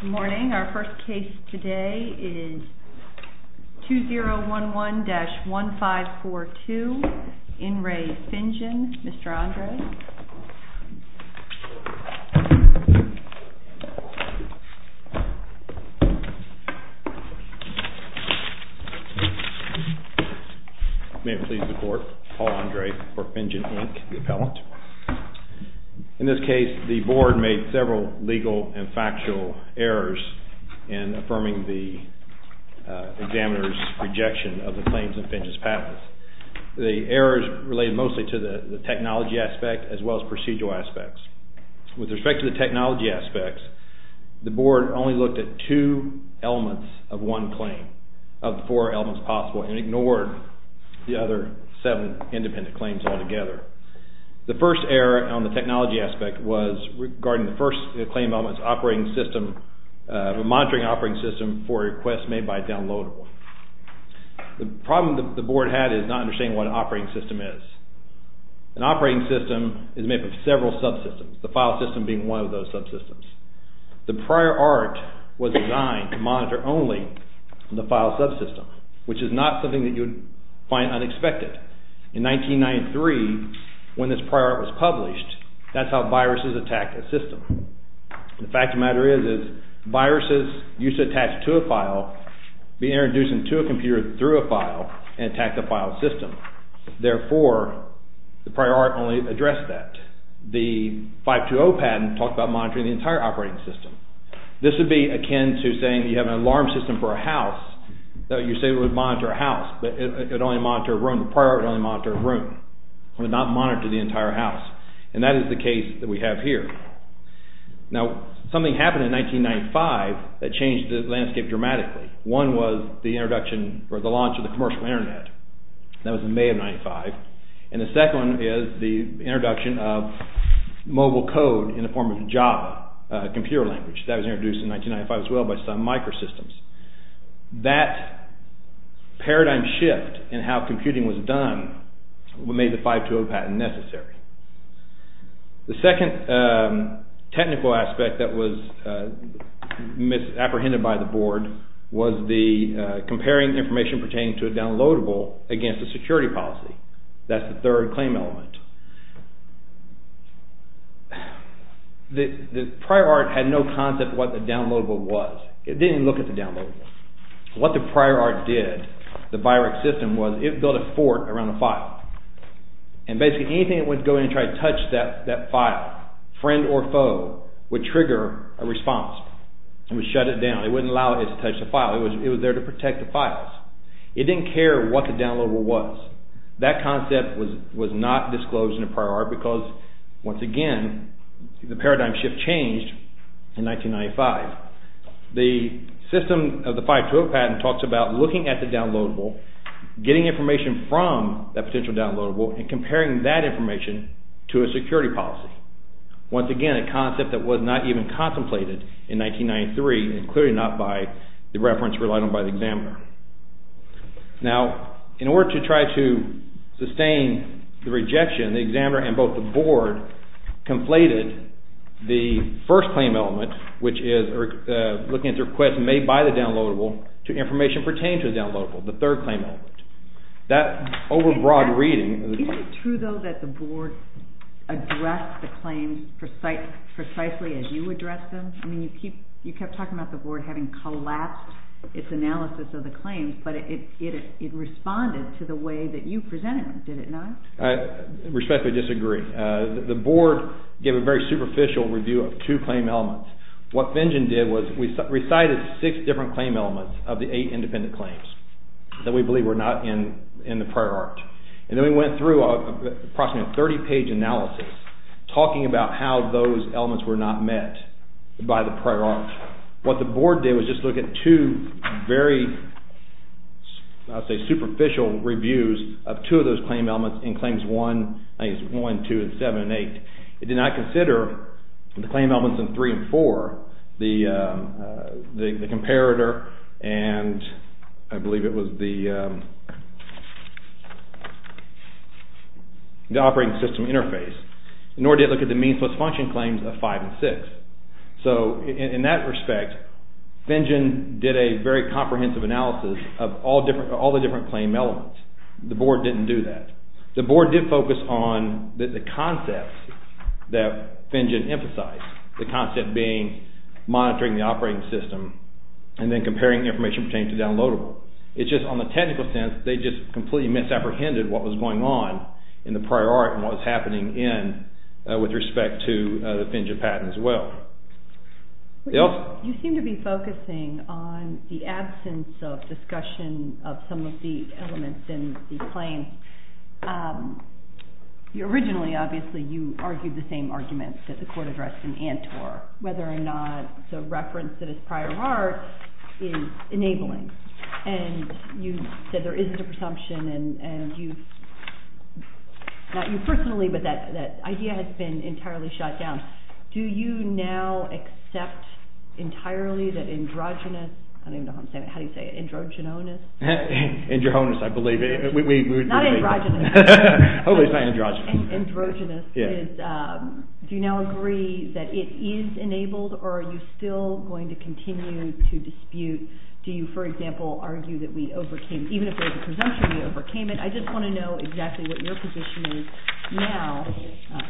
Good morning. Our first case today is 2011-1542, IN RE FINJAN. Mr. Andre. May it please the court, Paul Andre for FINJAN, Inc., the appellant. In this case, the board made several legal and factual errors in affirming the examiner's rejection of the claims of FINJAN's patents. The errors related mostly to the technology aspect as well as procedural aspects. With respect to the technology aspects, the board only looked at two elements of one claim, of the four elements possible, and ignored the other seven independent claims altogether. The first error on the technology aspect was regarding the first claim of operating system, monitoring operating system for a request made by a downloadable. The problem the board had is not understanding what an operating system is. An operating system is made up of several subsystems, the file system being one of those subsystems. The prior art was designed to monitor only the file subsystem, which is not something that you would find unexpected. In 1993, when this prior art was published, that's how viruses attacked a system. The fact of the matter is, viruses used to attach to a file, be introduced into a computer through a file, and attack the file system. Therefore, the prior art only addressed that. The 520 patent talked about monitoring the entire operating system. This would be akin to saying you have an alarm system for a house, so you say it would monitor a house, but it would only monitor a room. The prior art would only monitor a room. It would not monitor the entire house, and that is the case that we have here. Now, something happened in 1995 that changed the landscape dramatically. One was the introduction, or the launch of the commercial internet. That was in May of 1995, and the second one is the introduction of mobile code in the form of Java, a computer language. That was introduced in 1995 as well by some microsystems. That paradigm shift in how computing was done made the 520 patent necessary. The second technical aspect that was misapprehended by the board was the comparing information pertaining to a downloadable against a security policy. That's the third claim element. The prior art had no concept of what a downloadable was. It didn't even look at the downloadable. What the prior art did, the Biorec system was it built a fort around a file, and basically anything that would go in and try to touch that file, friend or foe, would trigger a response. It would shut it down. It wouldn't allow it to touch the file. It was there to protect the files. It didn't care what the downloadable was. That concept was not disclosed in the prior art because, once again, the system of the 520 patent talks about looking at the downloadable, getting information from that potential downloadable, and comparing that information to a security policy. Once again, a concept that was not even contemplated in 1993, and clearly not by the reference relied on by the examiner. Now, in order to try to sustain the rejection, the examiner and both the board conflated the first claim element, which is looking at the request made by the downloadable, to information pertaining to the downloadable, the third claim element. That over-broad reading... Is it true, though, that the board addressed the claims precisely as you addressed them? You kept talking about the board having collapsed its analysis of the claims, but it responded to the way that you presented them, did it not? I respectfully disagree. The board gave a very superficial review of two claim elements. What Finjen did was we recited six different claim elements of the eight independent claims that we believe were not in the prior art, and then we went through approximately a 30-page analysis talking about how those elements were not met by the prior art. What the board did was just look at two very, I would say, superficial reviews of two of those claim elements in claims 1, 2, 7, and 8. It did not consider the claim elements in 3 and 4, the comparator, and I believe it was the operating system interface, nor did it look at the meansless function claims of 5 and 6. So, in that respect, Finjen did a very comprehensive analysis of all the different claim elements. The board didn't do that. The board did focus on the concepts that Finjen emphasized, the concept being monitoring the operating system and then comparing information pertaining to downloadable. It's just on the technical sense, they just completely misapprehended what was going on in the prior art and what was happening in with respect to the Finjen patent as well. You seem to be focusing on the absence of discussion of some of the elements in the claim. Originally, obviously, you argued the same arguments that the court addressed in ANTOR, whether or not the reference that is prior art is enabling, and you said there is a presumption, and you, not you personally, but that idea has been entirely shut down. Do you now accept entirely that androgynous, I don't even know how to say it, androgynonous, do you now agree that it is enabled, or are you still going to continue to dispute, do you, for example, argue that we overcame, even if there is a presumption that we overcame it? I just want to know exactly what your position is now,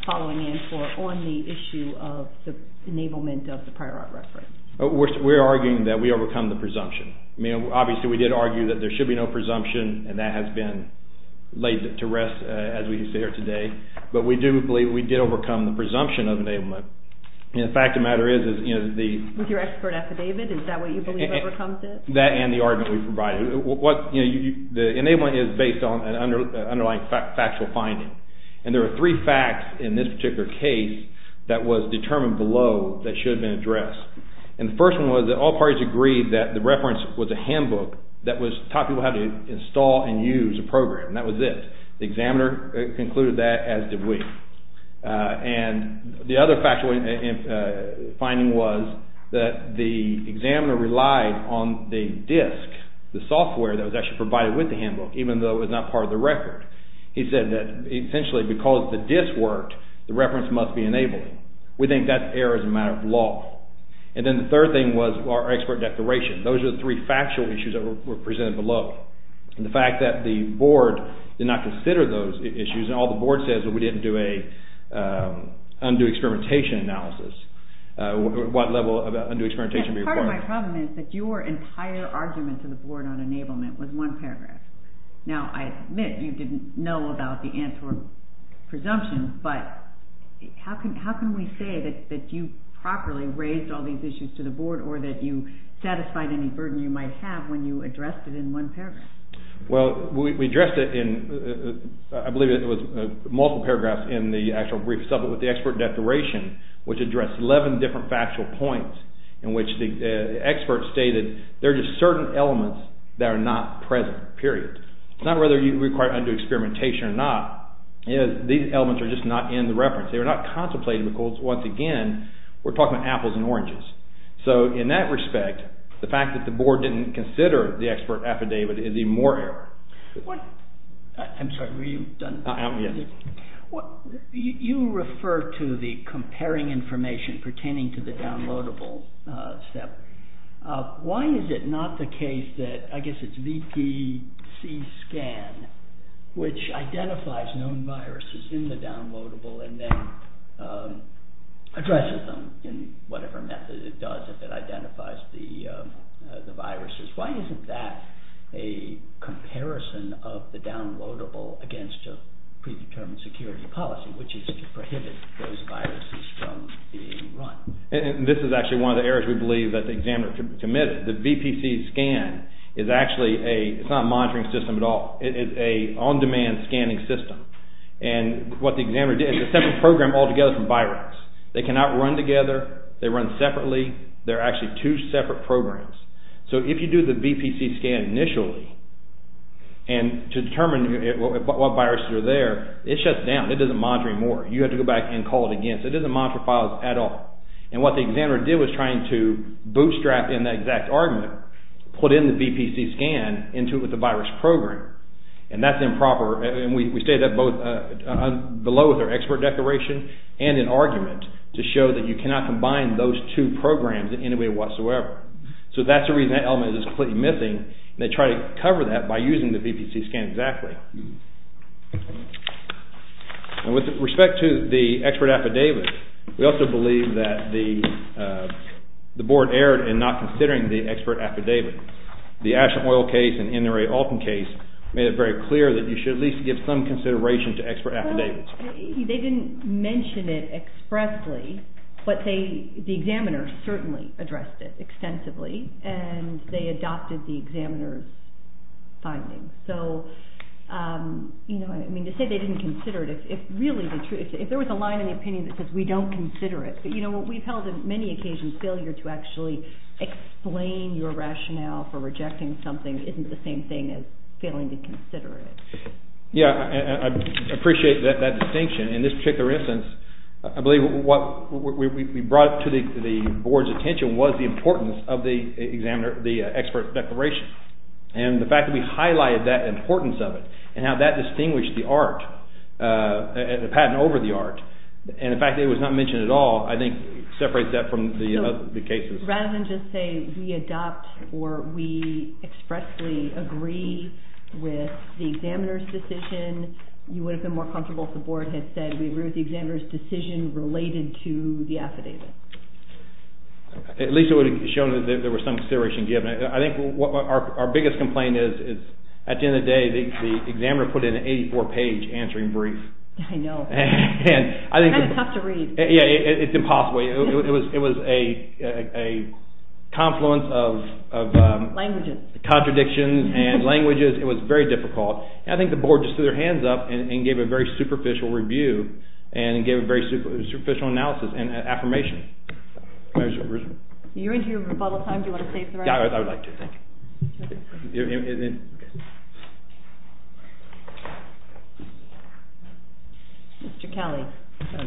following ANTOR, on the issue of the enablement of the prior art reference. We're arguing that we overcome the presumption. I mean, obviously, we did argue that there should be no presumption, and that has been laid to rest, as we can see here today, but we do believe we did overcome the presumption of enablement. And the fact of the matter is, is, you know, the... With your expert affidavit, is that what you believe overcomes it? That and the argument we provided. What, you know, the enablement is based on an underlying factual finding, and there are three facts in this particular case that was determined below that should have been addressed. And the first one was that all parties agreed that the reference was a handbook that taught people how to install and use a program, and that was this. The examiner concluded that, as did we. And the other factual finding was that the examiner relied on the disk, the software that was actually provided with the handbook, even though it was not part of the record. He said that, essentially, because the disk worked, the reference must be enabled. We think that error is a matter of law. And then the third thing was our expert declaration. Those are the three factual issues that were presented below. And the fact that the board did not consider those issues, and all the new experimentation would be required. Part of my problem is that your entire argument to the board on enablement was one paragraph. Now I admit you didn't know about the Antwerp presumption, but how can we say that you properly raised all these issues to the board, or that you satisfied any burden you might have when you addressed it in one paragraph? Well, we addressed it in, I believe it was multiple paragraphs in the actual brief sublet with the expert declaration, which addressed 11 different factual points, in which the expert stated, there are just certain elements that are not present, period. It's not whether you require undue experimentation or not. These elements are just not in the reference. They were not contemplated because, once again, we're talking about apples and oranges. So in that respect, the fact that the board didn't consider the expert affidavit is even more error. I'm sorry, were you done? You refer to the comparing information pertaining to the downloadable step. Why is it not the case that, I guess it's VPC scan, which identifies known viruses in the downloadable and then addresses them in whatever method it does if it identifies the viruses. Why isn't that a comparison of the downloadable against a predetermined security policy, which is to prohibit those viruses from being run? This is actually one of the errors we believe that the examiner committed. The VPC scan is actually a, it's not a monitoring system at all. It is a on-demand scanning system. And what the examiner did, it's a separate program altogether from virus. They cannot run together. They run separately. They're actually two separate programs. So if you do the VPC scan initially and to determine what viruses are there, it shuts down. It doesn't monitor anymore. You have to go back and call it again. So it doesn't monitor files at all. And what the examiner did was trying to bootstrap in that exact argument, put in the VPC scan into it with the virus program. And that's improper. And we stated that both below with our expert declaration and in argument to show that you cannot combine those two programs in any way whatsoever. So that's the reason that element is completely missing. They try to cover that by using the VPC scan exactly. With respect to the expert affidavit, we also believe that the board erred in not considering the expert affidavit. The Ashland Oil case and NRA Alton case made it very clear that you should at least give some consideration to expert affidavits. They didn't mention it expressly, but the examiner certainly addressed it extensively. And they adopted the examiner's findings. So, you know, I mean, to say they didn't consider it, if really, if there was a line in the opinion that says we don't consider it, but you know, what we've held in many occasions, failure to actually explain your rationale for rejecting something isn't the same thing as failing to consider it. Yeah, I appreciate that distinction. In this particular instance, I believe what we brought to the board's attention was the importance of the examiner, the expert declaration. And the fact that we highlighted that importance of it and how that distinguished the art, the patent over the art, and the fact that it was not mentioned at all, I think separates that from the other cases. Rather than just say we adopt or we expressly agree with the examiner's decision, you would have been more comfortable if the board had said we agree with the examiner's decision related to the affidavit. At least it would have shown that there was some consideration given. I think our biggest complaint is at the end of the day, the examiner put in an 84-page answering brief. I know. And I think... It's kind of tough to read. Yeah, it's impossible. It was a confluence of... Languages. ...contradictions and languages. It was very difficult. And I think the board just threw their hands up and gave a very superficial review and gave a very superficial analysis and affirmation. You're into your rebuttal time. Do you want to say something? Yeah, I would like to. Thank you. Mr. Kelly.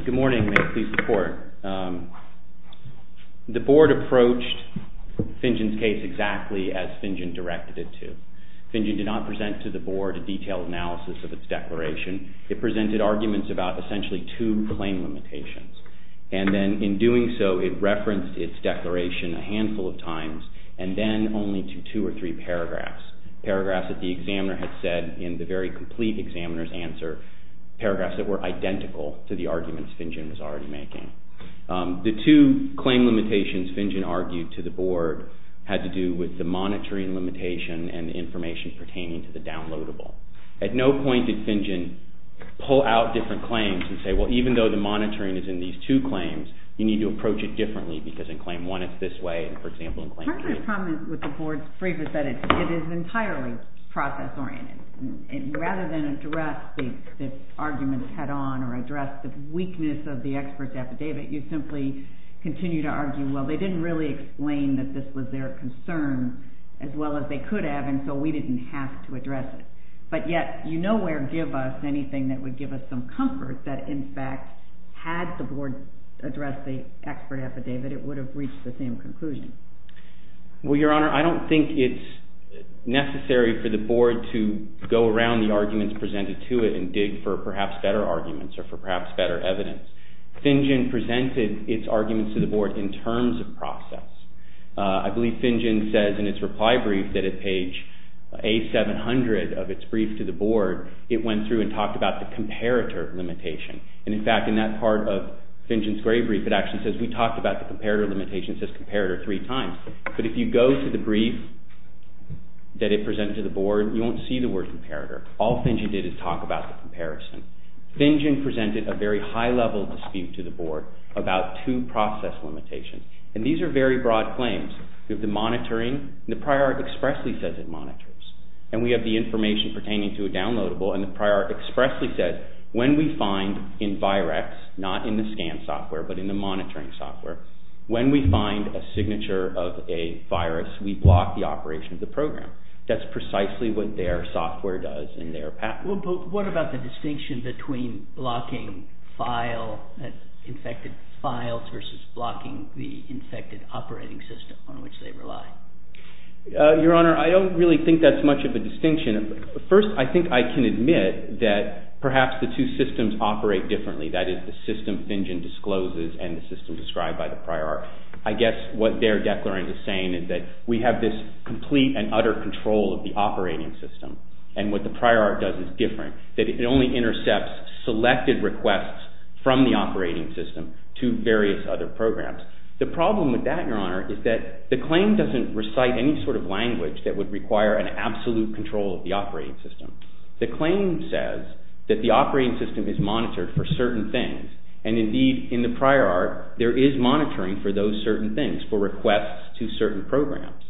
Good morning. May I please report? The board approached Fingen's case exactly as Fingen directed it to. Fingen did not present to the board a detailed analysis of its declaration. It presented arguments about essentially two claim limitations. And then in doing so, it referenced its declaration a handful of times and then only to two or three paragraphs. Paragraphs that the examiner had said in the very complete examiner's answer, paragraphs that were identical to the arguments Fingen was already making. The two claim limitations Fingen argued to the board had to do with the monitoring limitation and information pertaining to the downloadable. At no point did Fingen pull out different claims and say, well, even though the monitoring is in these two claims, you need to approach it differently because in claim one, it's this way. And for example, in claim three... Part of the problem with the board's brief is that it is entirely process-oriented. Rather than address the arguments head-on or address the weakness of the expert's affidavit, you simply continue to argue, well, they didn't really explain that this was their concern as well as they could have, and so we didn't have to address it. But yet, you nowhere give us anything that would give us some comfort that in fact, had the board addressed the expert affidavit, it would have reached the same conclusion. Well, Your Honor, I don't think it's necessary for the board to go around the arguments presented to it and dig for perhaps better arguments or for perhaps better evidence. Fingen presented its arguments to the board in terms of process. I believe Fingen says in its reply brief that at page A700 of its brief to the board, it went through and talked about the comparator limitation. And in fact, in that part of Fingen's gray brief, it actually says, we talked about the comparator limitation, it says comparator three times. But if you go to the brief that it presented to the board, you won't see the word comparator. All Fingen did is talk about the comparison. Fingen presented a very high-level dispute to the board about two process limitations. And these are very broad claims. We have the monitoring, and the prior art expressly says it monitors. And we have the information pertaining to a downloadable, and the prior art expressly says, when we find in Virex, not in the scan software, but in the monitoring software, when we find a signature of a virus, we block the operation of the program. That's precisely what their software does in their patent. Well, but what about the distinction between blocking files, infected files versus blocking the infected operating system on which they rely? Your Honor, I don't really think that's much of a distinction. First, I think I can admit that perhaps the two systems operate differently. That is, the system Fingen discloses and the system described by the prior art. I guess what their declarant is saying is that we have this complete and utter control of the operating system. And what the prior art does is different, that it only intercepts selected requests from the operating system to various other programs. The problem with that, Your Honor, is that the claim doesn't recite any sort of language that would require an absolute control of the operating system. The claim says that the operating system is monitored for certain things. And indeed, in the prior art, there is monitoring for those certain things, for requests to certain programs.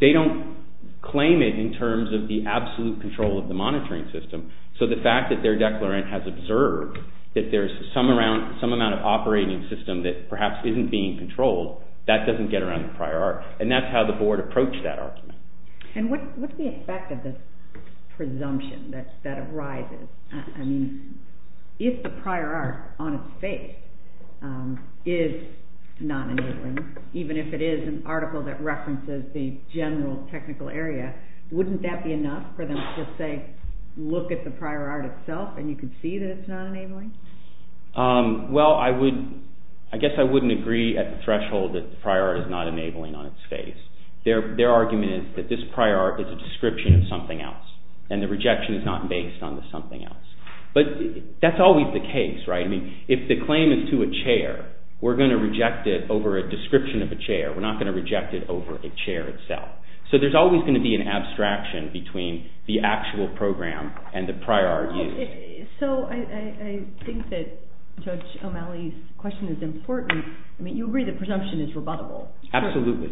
They don't claim it in terms of the absolute control of the monitoring system. So the fact that their declarant has observed that there's some amount of operating system that perhaps isn't being controlled, that doesn't get around the prior art. And that's how the board approached that argument. And what's the effect of this presumption that arises? I mean, if the prior art, on its face, is not enabling, even if it is an article that references the general technical area, wouldn't that be enough for them to just say, look at the prior art itself and you can see that it's not enabling? Well, I guess I wouldn't agree at the threshold that the prior art is not enabling on its face. Their argument is that this prior art is a description of something else, and the rejection is not based on the something else. But that's always the case, right? I mean, if the claim is to a chair, we're going to reject it over a description of a chair. We're not going to reject it over a chair itself. So there's always going to be an abstraction between the actual program and the prior art used. So I think that Judge O'Malley's question is important. I mean, you agree that presumption is rebuttable. Absolutely.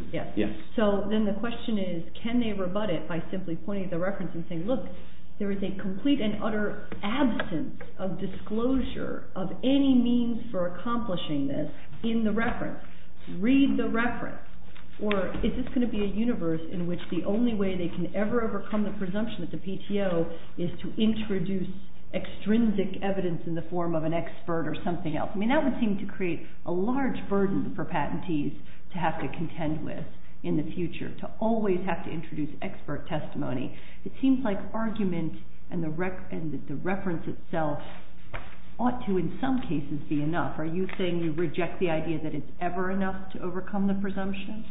So then the question is, can they rebut it by simply pointing to the reference and saying, look, there is a complete and utter absence of disclosure of any means for accomplishing this in the reference? Read the reference. Or is this going to be a universe in which the only way they can ever overcome the presumption that the PTO is to introduce extrinsic evidence in the form of an expert or something else? I mean, that would seem to create a large burden for patentees to have to contend with in the future, to always have to introduce expert testimony. It seems like argument and the reference itself ought to, in some cases, be enough. Are you saying you reject the idea that it's ever enough to overcome the presumption?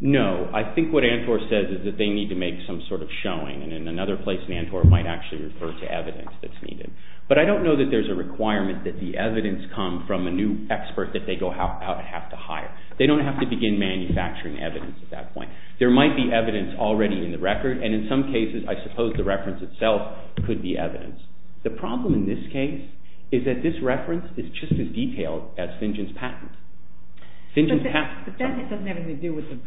No. I think what ANTOR says is that they need to make some sort of showing. And in another place, NANTOR might actually refer to evidence that's needed. But I don't know that there's a requirement that the evidence come from a new expert that they go out and have to hire. They don't have to begin manufacturing evidence at that point. There might be evidence already in the record. And in some cases, I suppose the reference itself could be evidence. The problem in this case is that this reference is just as detailed as Fingen's patent. But that doesn't have anything to do with the,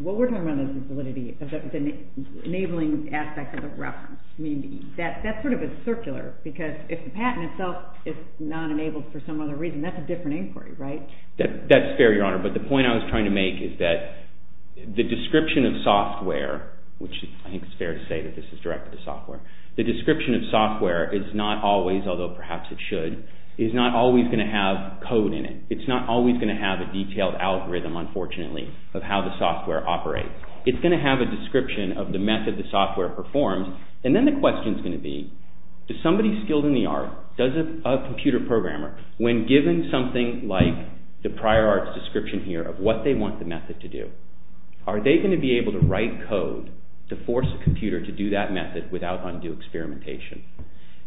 what we're talking about is the validity of the enabling aspect of the reference. I mean, that's sort of a circular, because if the patent itself is not enabled for some other reason, that's a different inquiry, right? That's fair, Your Honor. But the point I was trying to make is that the description of software, which I think it's fair to say that this is directed to software, the description of software is not always, although perhaps it should, is not always going to have code in it. It's not always going to have a detailed algorithm, unfortunately, of how the software operates. It's going to have a description of the method the software performs. And then the question's going to be, does somebody skilled in the art, does a computer programmer, when given something like the prior art's description here of what they want the method to do, are they going to be able to write code to force a computer to do that method without undue experimentation?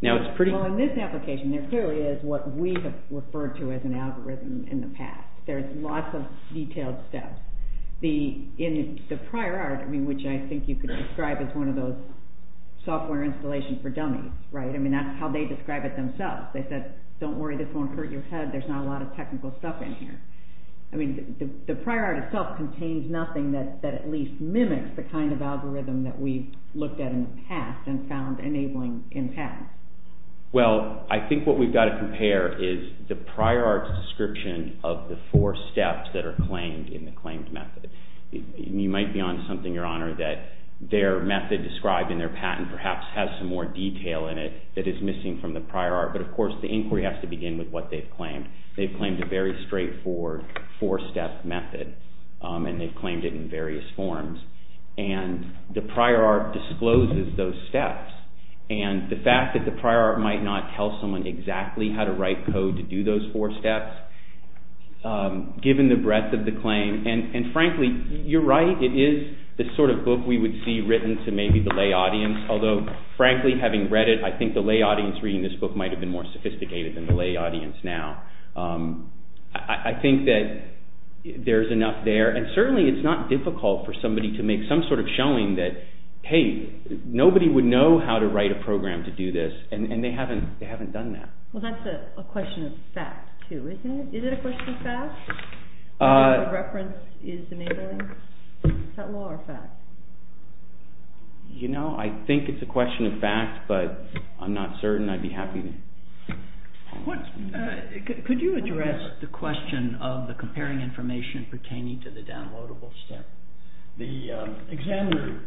Now, it's pretty... Well, in this application, there clearly is what we have referred to as an algorithm in the past. There's lots of detailed stuff. In the prior art, which I think you could describe as one of those software installations for dummies, right? I mean, that's how they describe it themselves. They said, don't worry, this won't hurt your head. There's not a lot of technical stuff in here. I mean, the prior art itself contains nothing that at least mimics the kind of algorithm that we've looked at in the past and found enabling in the past. Well, I think what we've got to compare is the prior art's description of the four steps that are claimed in the claimed method. You might be on something, Your Honor, that their method described in their patent perhaps has some more detail in it that is missing from the prior art. But of course, the inquiry has to begin with what they've claimed. They've claimed a very straightforward four-step method, and they've claimed it in various forms. And the prior art discloses those steps. And the fact that the prior art might not tell someone exactly how to write code to do those four steps, given the breadth of the claim, and frankly, you're right, it is the sort of book we would see written to maybe the lay audience, although frankly, having read it, I think the lay audience reading this book might have been more sophisticated than the lay audience now. I think that there's enough there, and certainly it's not difficult for somebody to make some sort of showing that, hey, nobody would know how to write a program to do this, and they haven't done that. Well, that's a question of fact, too, isn't it? Is it a question of fact? You know, I think it's a question of fact, but I'm not certain. I'd be happy to... Could you address the question of the comparing information pertaining to the downloadable The examiner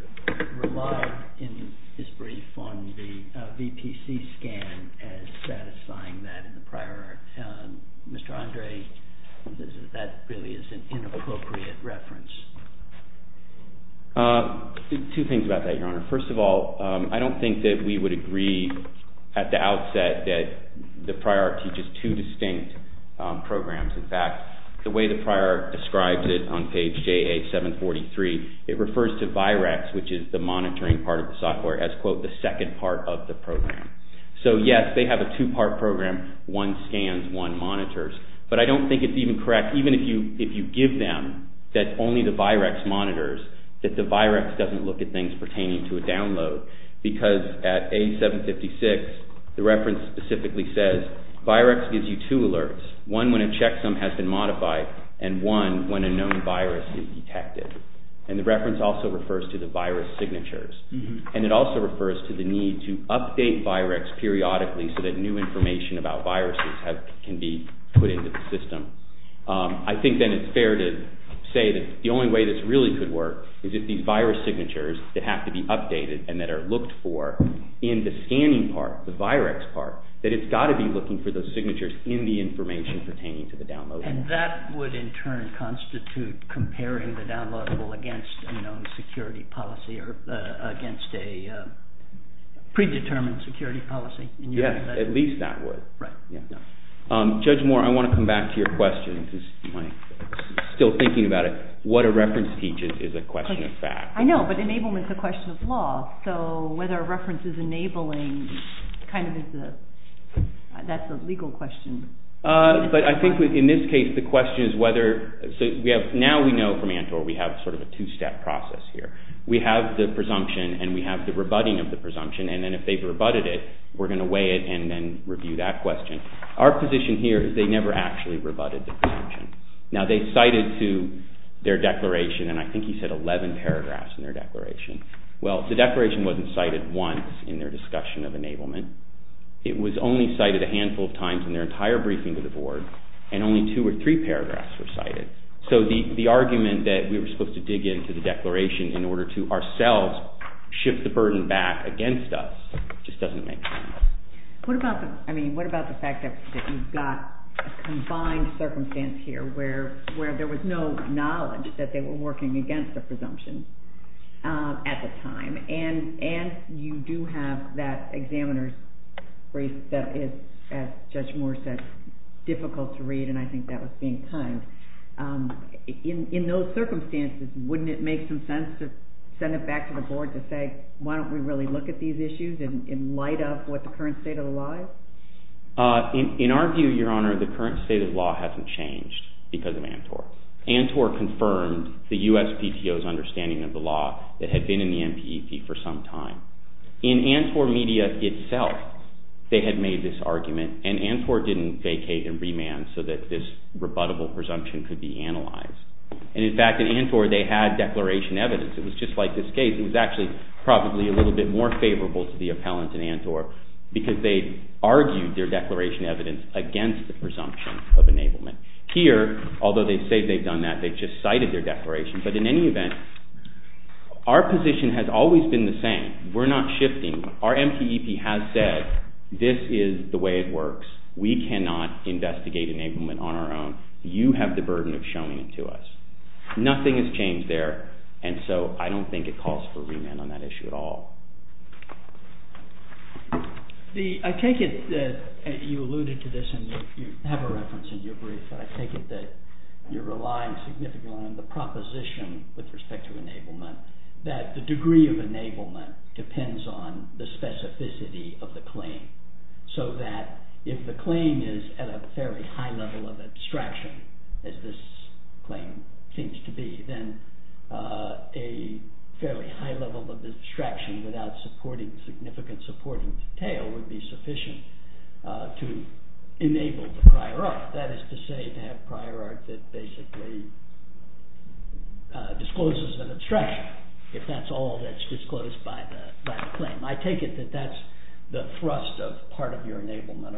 relied in his brief on the VPC scan as satisfying that in the prior art. Mr. Andre, that really is an inappropriate reference. Two things about that, Your Honor. First of all, I don't think that we would agree at the outset that the prior art teaches two distinct programs. In fact, the way the prior art describes it on page JA-743, it refers to Virex, which is the monitoring part of the software, as, quote, the second part of the program. So, yes, they have a two-part program, one scans, one monitors, but I don't think it's even correct, even if you give them that only the Virex monitors, that the Virex doesn't look at things pertaining to a download, because at A-756, the reference specifically says, Virex gives you two alerts, one when a checksum has been modified, and one when a known virus is detected. And the reference also refers to the virus signatures. And it also refers to the need to update Virex periodically so that new information about viruses can be put into the system. I think then it's fair to say that the only way this really could work is if these virus signatures that have to be updated and that are looked for in the scanning part, the Virex part, that it's got to be looking for those signatures in the information pertaining to the download. And that would in turn constitute comparing the downloadable against a known security policy or against a predetermined security policy. Yes, at least that would. Right. Judge Moore, I want to come back to your question, because I'm still thinking about it. What a reference teaches is a question of fact. I know, but enablement is a question of law. So whether a reference is enabling kind of is a, that's a legal question. But I think in this case, the question is whether, so we have, now we know from ANTOR we have sort of a two-step process here. We have the presumption and we have the rebutting of the presumption, and then if they've rebutted it, we're going to weigh it and then review that question. Our position here is they never actually rebutted the presumption. Now they cited to their declaration, and I think he said 11 paragraphs in their declaration. Well, the declaration wasn't cited once in their discussion of enablement. It was only cited a handful of times in their entire briefing to the board, and only two or three paragraphs were cited. So the argument that we were supposed to dig into the declaration in order to ourselves shift the burden back against us just doesn't make sense. What about the, I mean, what about the fact that you've got a combined circumstance here where there was no knowledge that they were working against the presumption at the time, and you do have that examiner's brief that is, as Judge Moore said, difficult to read, and I think that was being timed. In those circumstances, wouldn't it make some sense to send it back to the board to say, why don't we really look at these issues in light of what the current state of the law is? In our view, Your Honor, the current state of the law hasn't changed because of ANTOR. ANTOR confirmed the USPTO's understanding of the law that had been in the NPEP for some time. In ANTOR media itself, they had made this argument, and ANTOR didn't vacate and remand so that this rebuttable presumption could be analyzed. And in fact, in ANTOR, they had declaration evidence. It was just like this case. It was actually probably a little bit more favorable to the appellant in ANTOR because they argued their declaration evidence against the presumption of enablement. Here, although they say they've done that, they've just cited their declaration, but in any event, our position has always been the same. We're not shifting. Our NPEP has said, this is the way it works. We cannot investigate enablement on our own. You have the burden of showing it to us. Nothing has changed there, and so I don't think it calls for remand on that issue at all. I take it that you alluded to this, and you have a reference in your brief, but I take it that you're relying significantly on the proposition with respect to enablement, that the degree of enablement depends on the specificity of the claim, so that if the claim is at a fairly high level of abstraction, as this claim seems to be, then a fairly high level of abstraction without significant supporting detail would be sufficient to enable the prior art. That is to say, to have prior art that basically discloses an abstraction, if that's all that's disclosed by the claim. I take it that that's the thrust of part of your argument,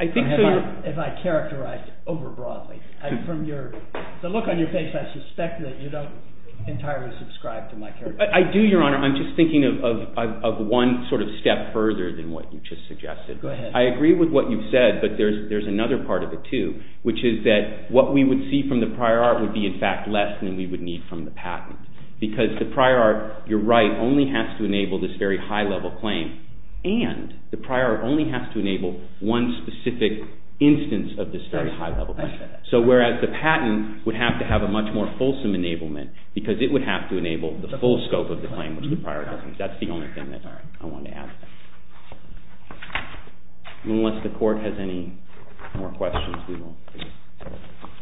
if I characterize it over broadly. From the look on your face, I suspect that you don't entirely subscribe to my characterization. I do, Your Honor. I'm just thinking of one sort of step further than what you just suggested. Go ahead. I agree with what you've said, but there's another part of it too, which is that what we would see from the prior art would be in fact less than we would need from the patent, because the prior art, you're right, only has to enable this very high level claim, and the prior art only has to enable one specific instance of this very high level claim. So whereas the patent would have to have a much more fulsome enablement, because it would have to enable the full scope of the claim, which the prior art doesn't. That's the only thing that I want to add. Unless the Court has any more questions, we will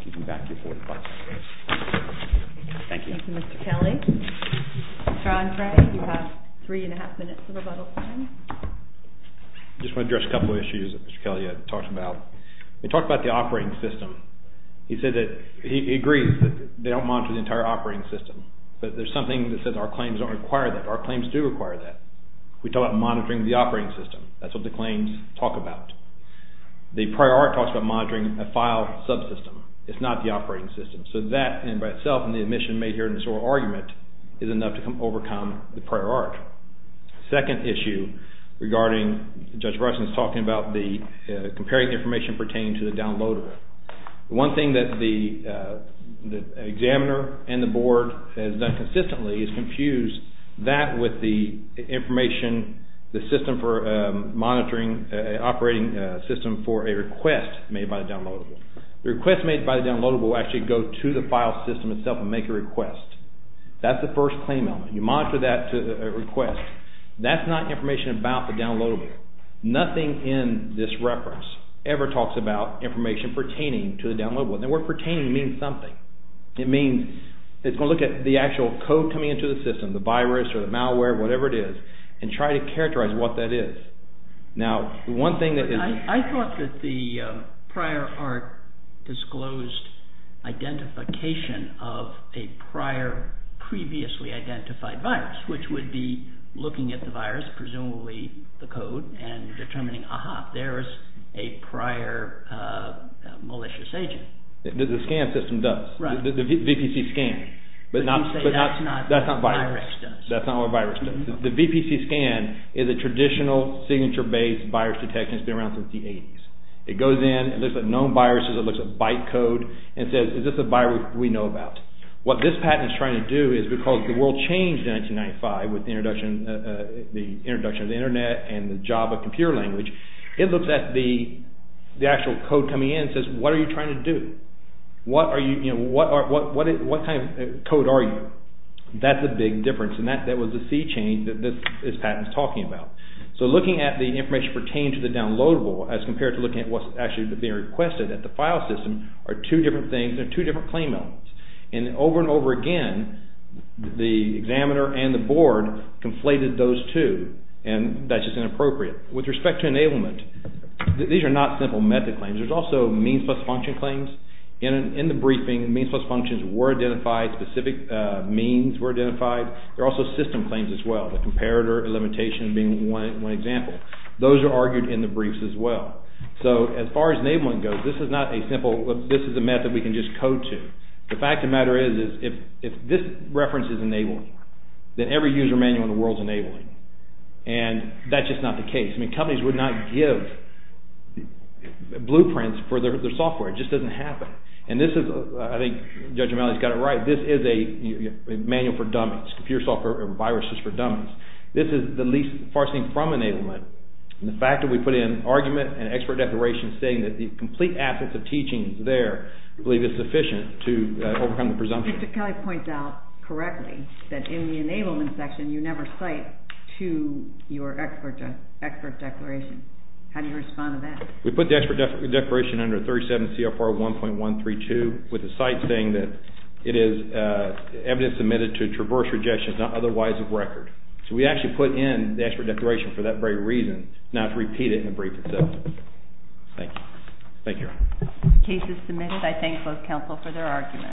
give you back your 45 minutes. Thank you. Thank you, Mr. Kelly. Your Honor, you have three and a half minutes of rebuttal time. I just want to address a couple of issues that Mr. Kelly had talked about. He talked about the operating system. He agrees that they don't monitor the entire operating system, but there's something that says our claims don't require that. Our claims do require that. We talk about monitoring the operating system. That's what the claims talk about. The prior art talks about monitoring a file subsystem. It's not the operating system. So that in and of itself, and the admission made here in this oral argument, is enough to overcome the prior art. The second issue regarding, Judge Breslin is talking about comparing information pertaining to the downloader. One thing that the examiner and the Board has done consistently is confuse that with the information, the system for monitoring, operating system for a request made by the downloadable. The request made by the downloadable will actually go to the file system itself and make a request. That's the first claim element. You monitor that request. That's not information about the downloadable. Nothing in this reference ever talks about information pertaining to the downloadable. The word pertaining means something. It means it's going to look at the actual code coming into the system, the virus or the malware, whatever it is, and try to characterize what that is. I thought that the prior art disclosed identification of a prior previously identified virus, which would be looking at the virus, presumably the code, and determining, aha, there's a prior malicious agent. The scan system does. The VPC scan. But you say that's not what a virus does. That's not what a virus does. The VPC scan is a traditional signature-based virus detection. It's been around since the 80s. It goes in. It looks at known viruses. It looks at byte code and says, is this a virus we know about? What this patent is trying to do is because the world changed in 1995 with the introduction of the Internet and the Java computer language, it looks at the actual code coming in and says, what are you trying to do? What kind of code are you? That's a big difference. And that was the sea change that this patent is talking about. So looking at the information pertaining to the downloadable as compared to looking at what's actually being requested at the file system are two different things and two different claim elements. And over and over again, the examiner and the board conflated those two. And that's just inappropriate. With respect to enablement, these are not simple method claims. There's also means plus functions were identified, specific means were identified. There are also system claims as well, the comparator limitation being one example. Those are argued in the briefs as well. So as far as enablement goes, this is not a simple, this is a method we can just code to. The fact of the matter is, if this reference is enabling, then every user manual in the world is enabling. And that's just not the case. I mean, companies would not give blueprints for their software. It just doesn't happen. And this is, I think Judge O'Malley's got it right, this is a manual for dummies. Computer software or viruses for dummies. This is the least far-seeing from enablement. And the fact that we put in argument and expert declaration saying that the complete absence of teachings there I believe is sufficient to overcome the presumption. Mr. Kelly points out correctly that in the enablement section, you never cite to your expert declaration. How do you respond to that? We put the expert declaration under 37 CFR 1.132 with the site saying that it is evidence submitted to a traverse rejection not otherwise of record. So we actually put in the expert declaration for that very reason, not to repeat it in the brief itself. Thank you. Thank you, Your Honor. The case is submitted. I thank both counsel for their arguments.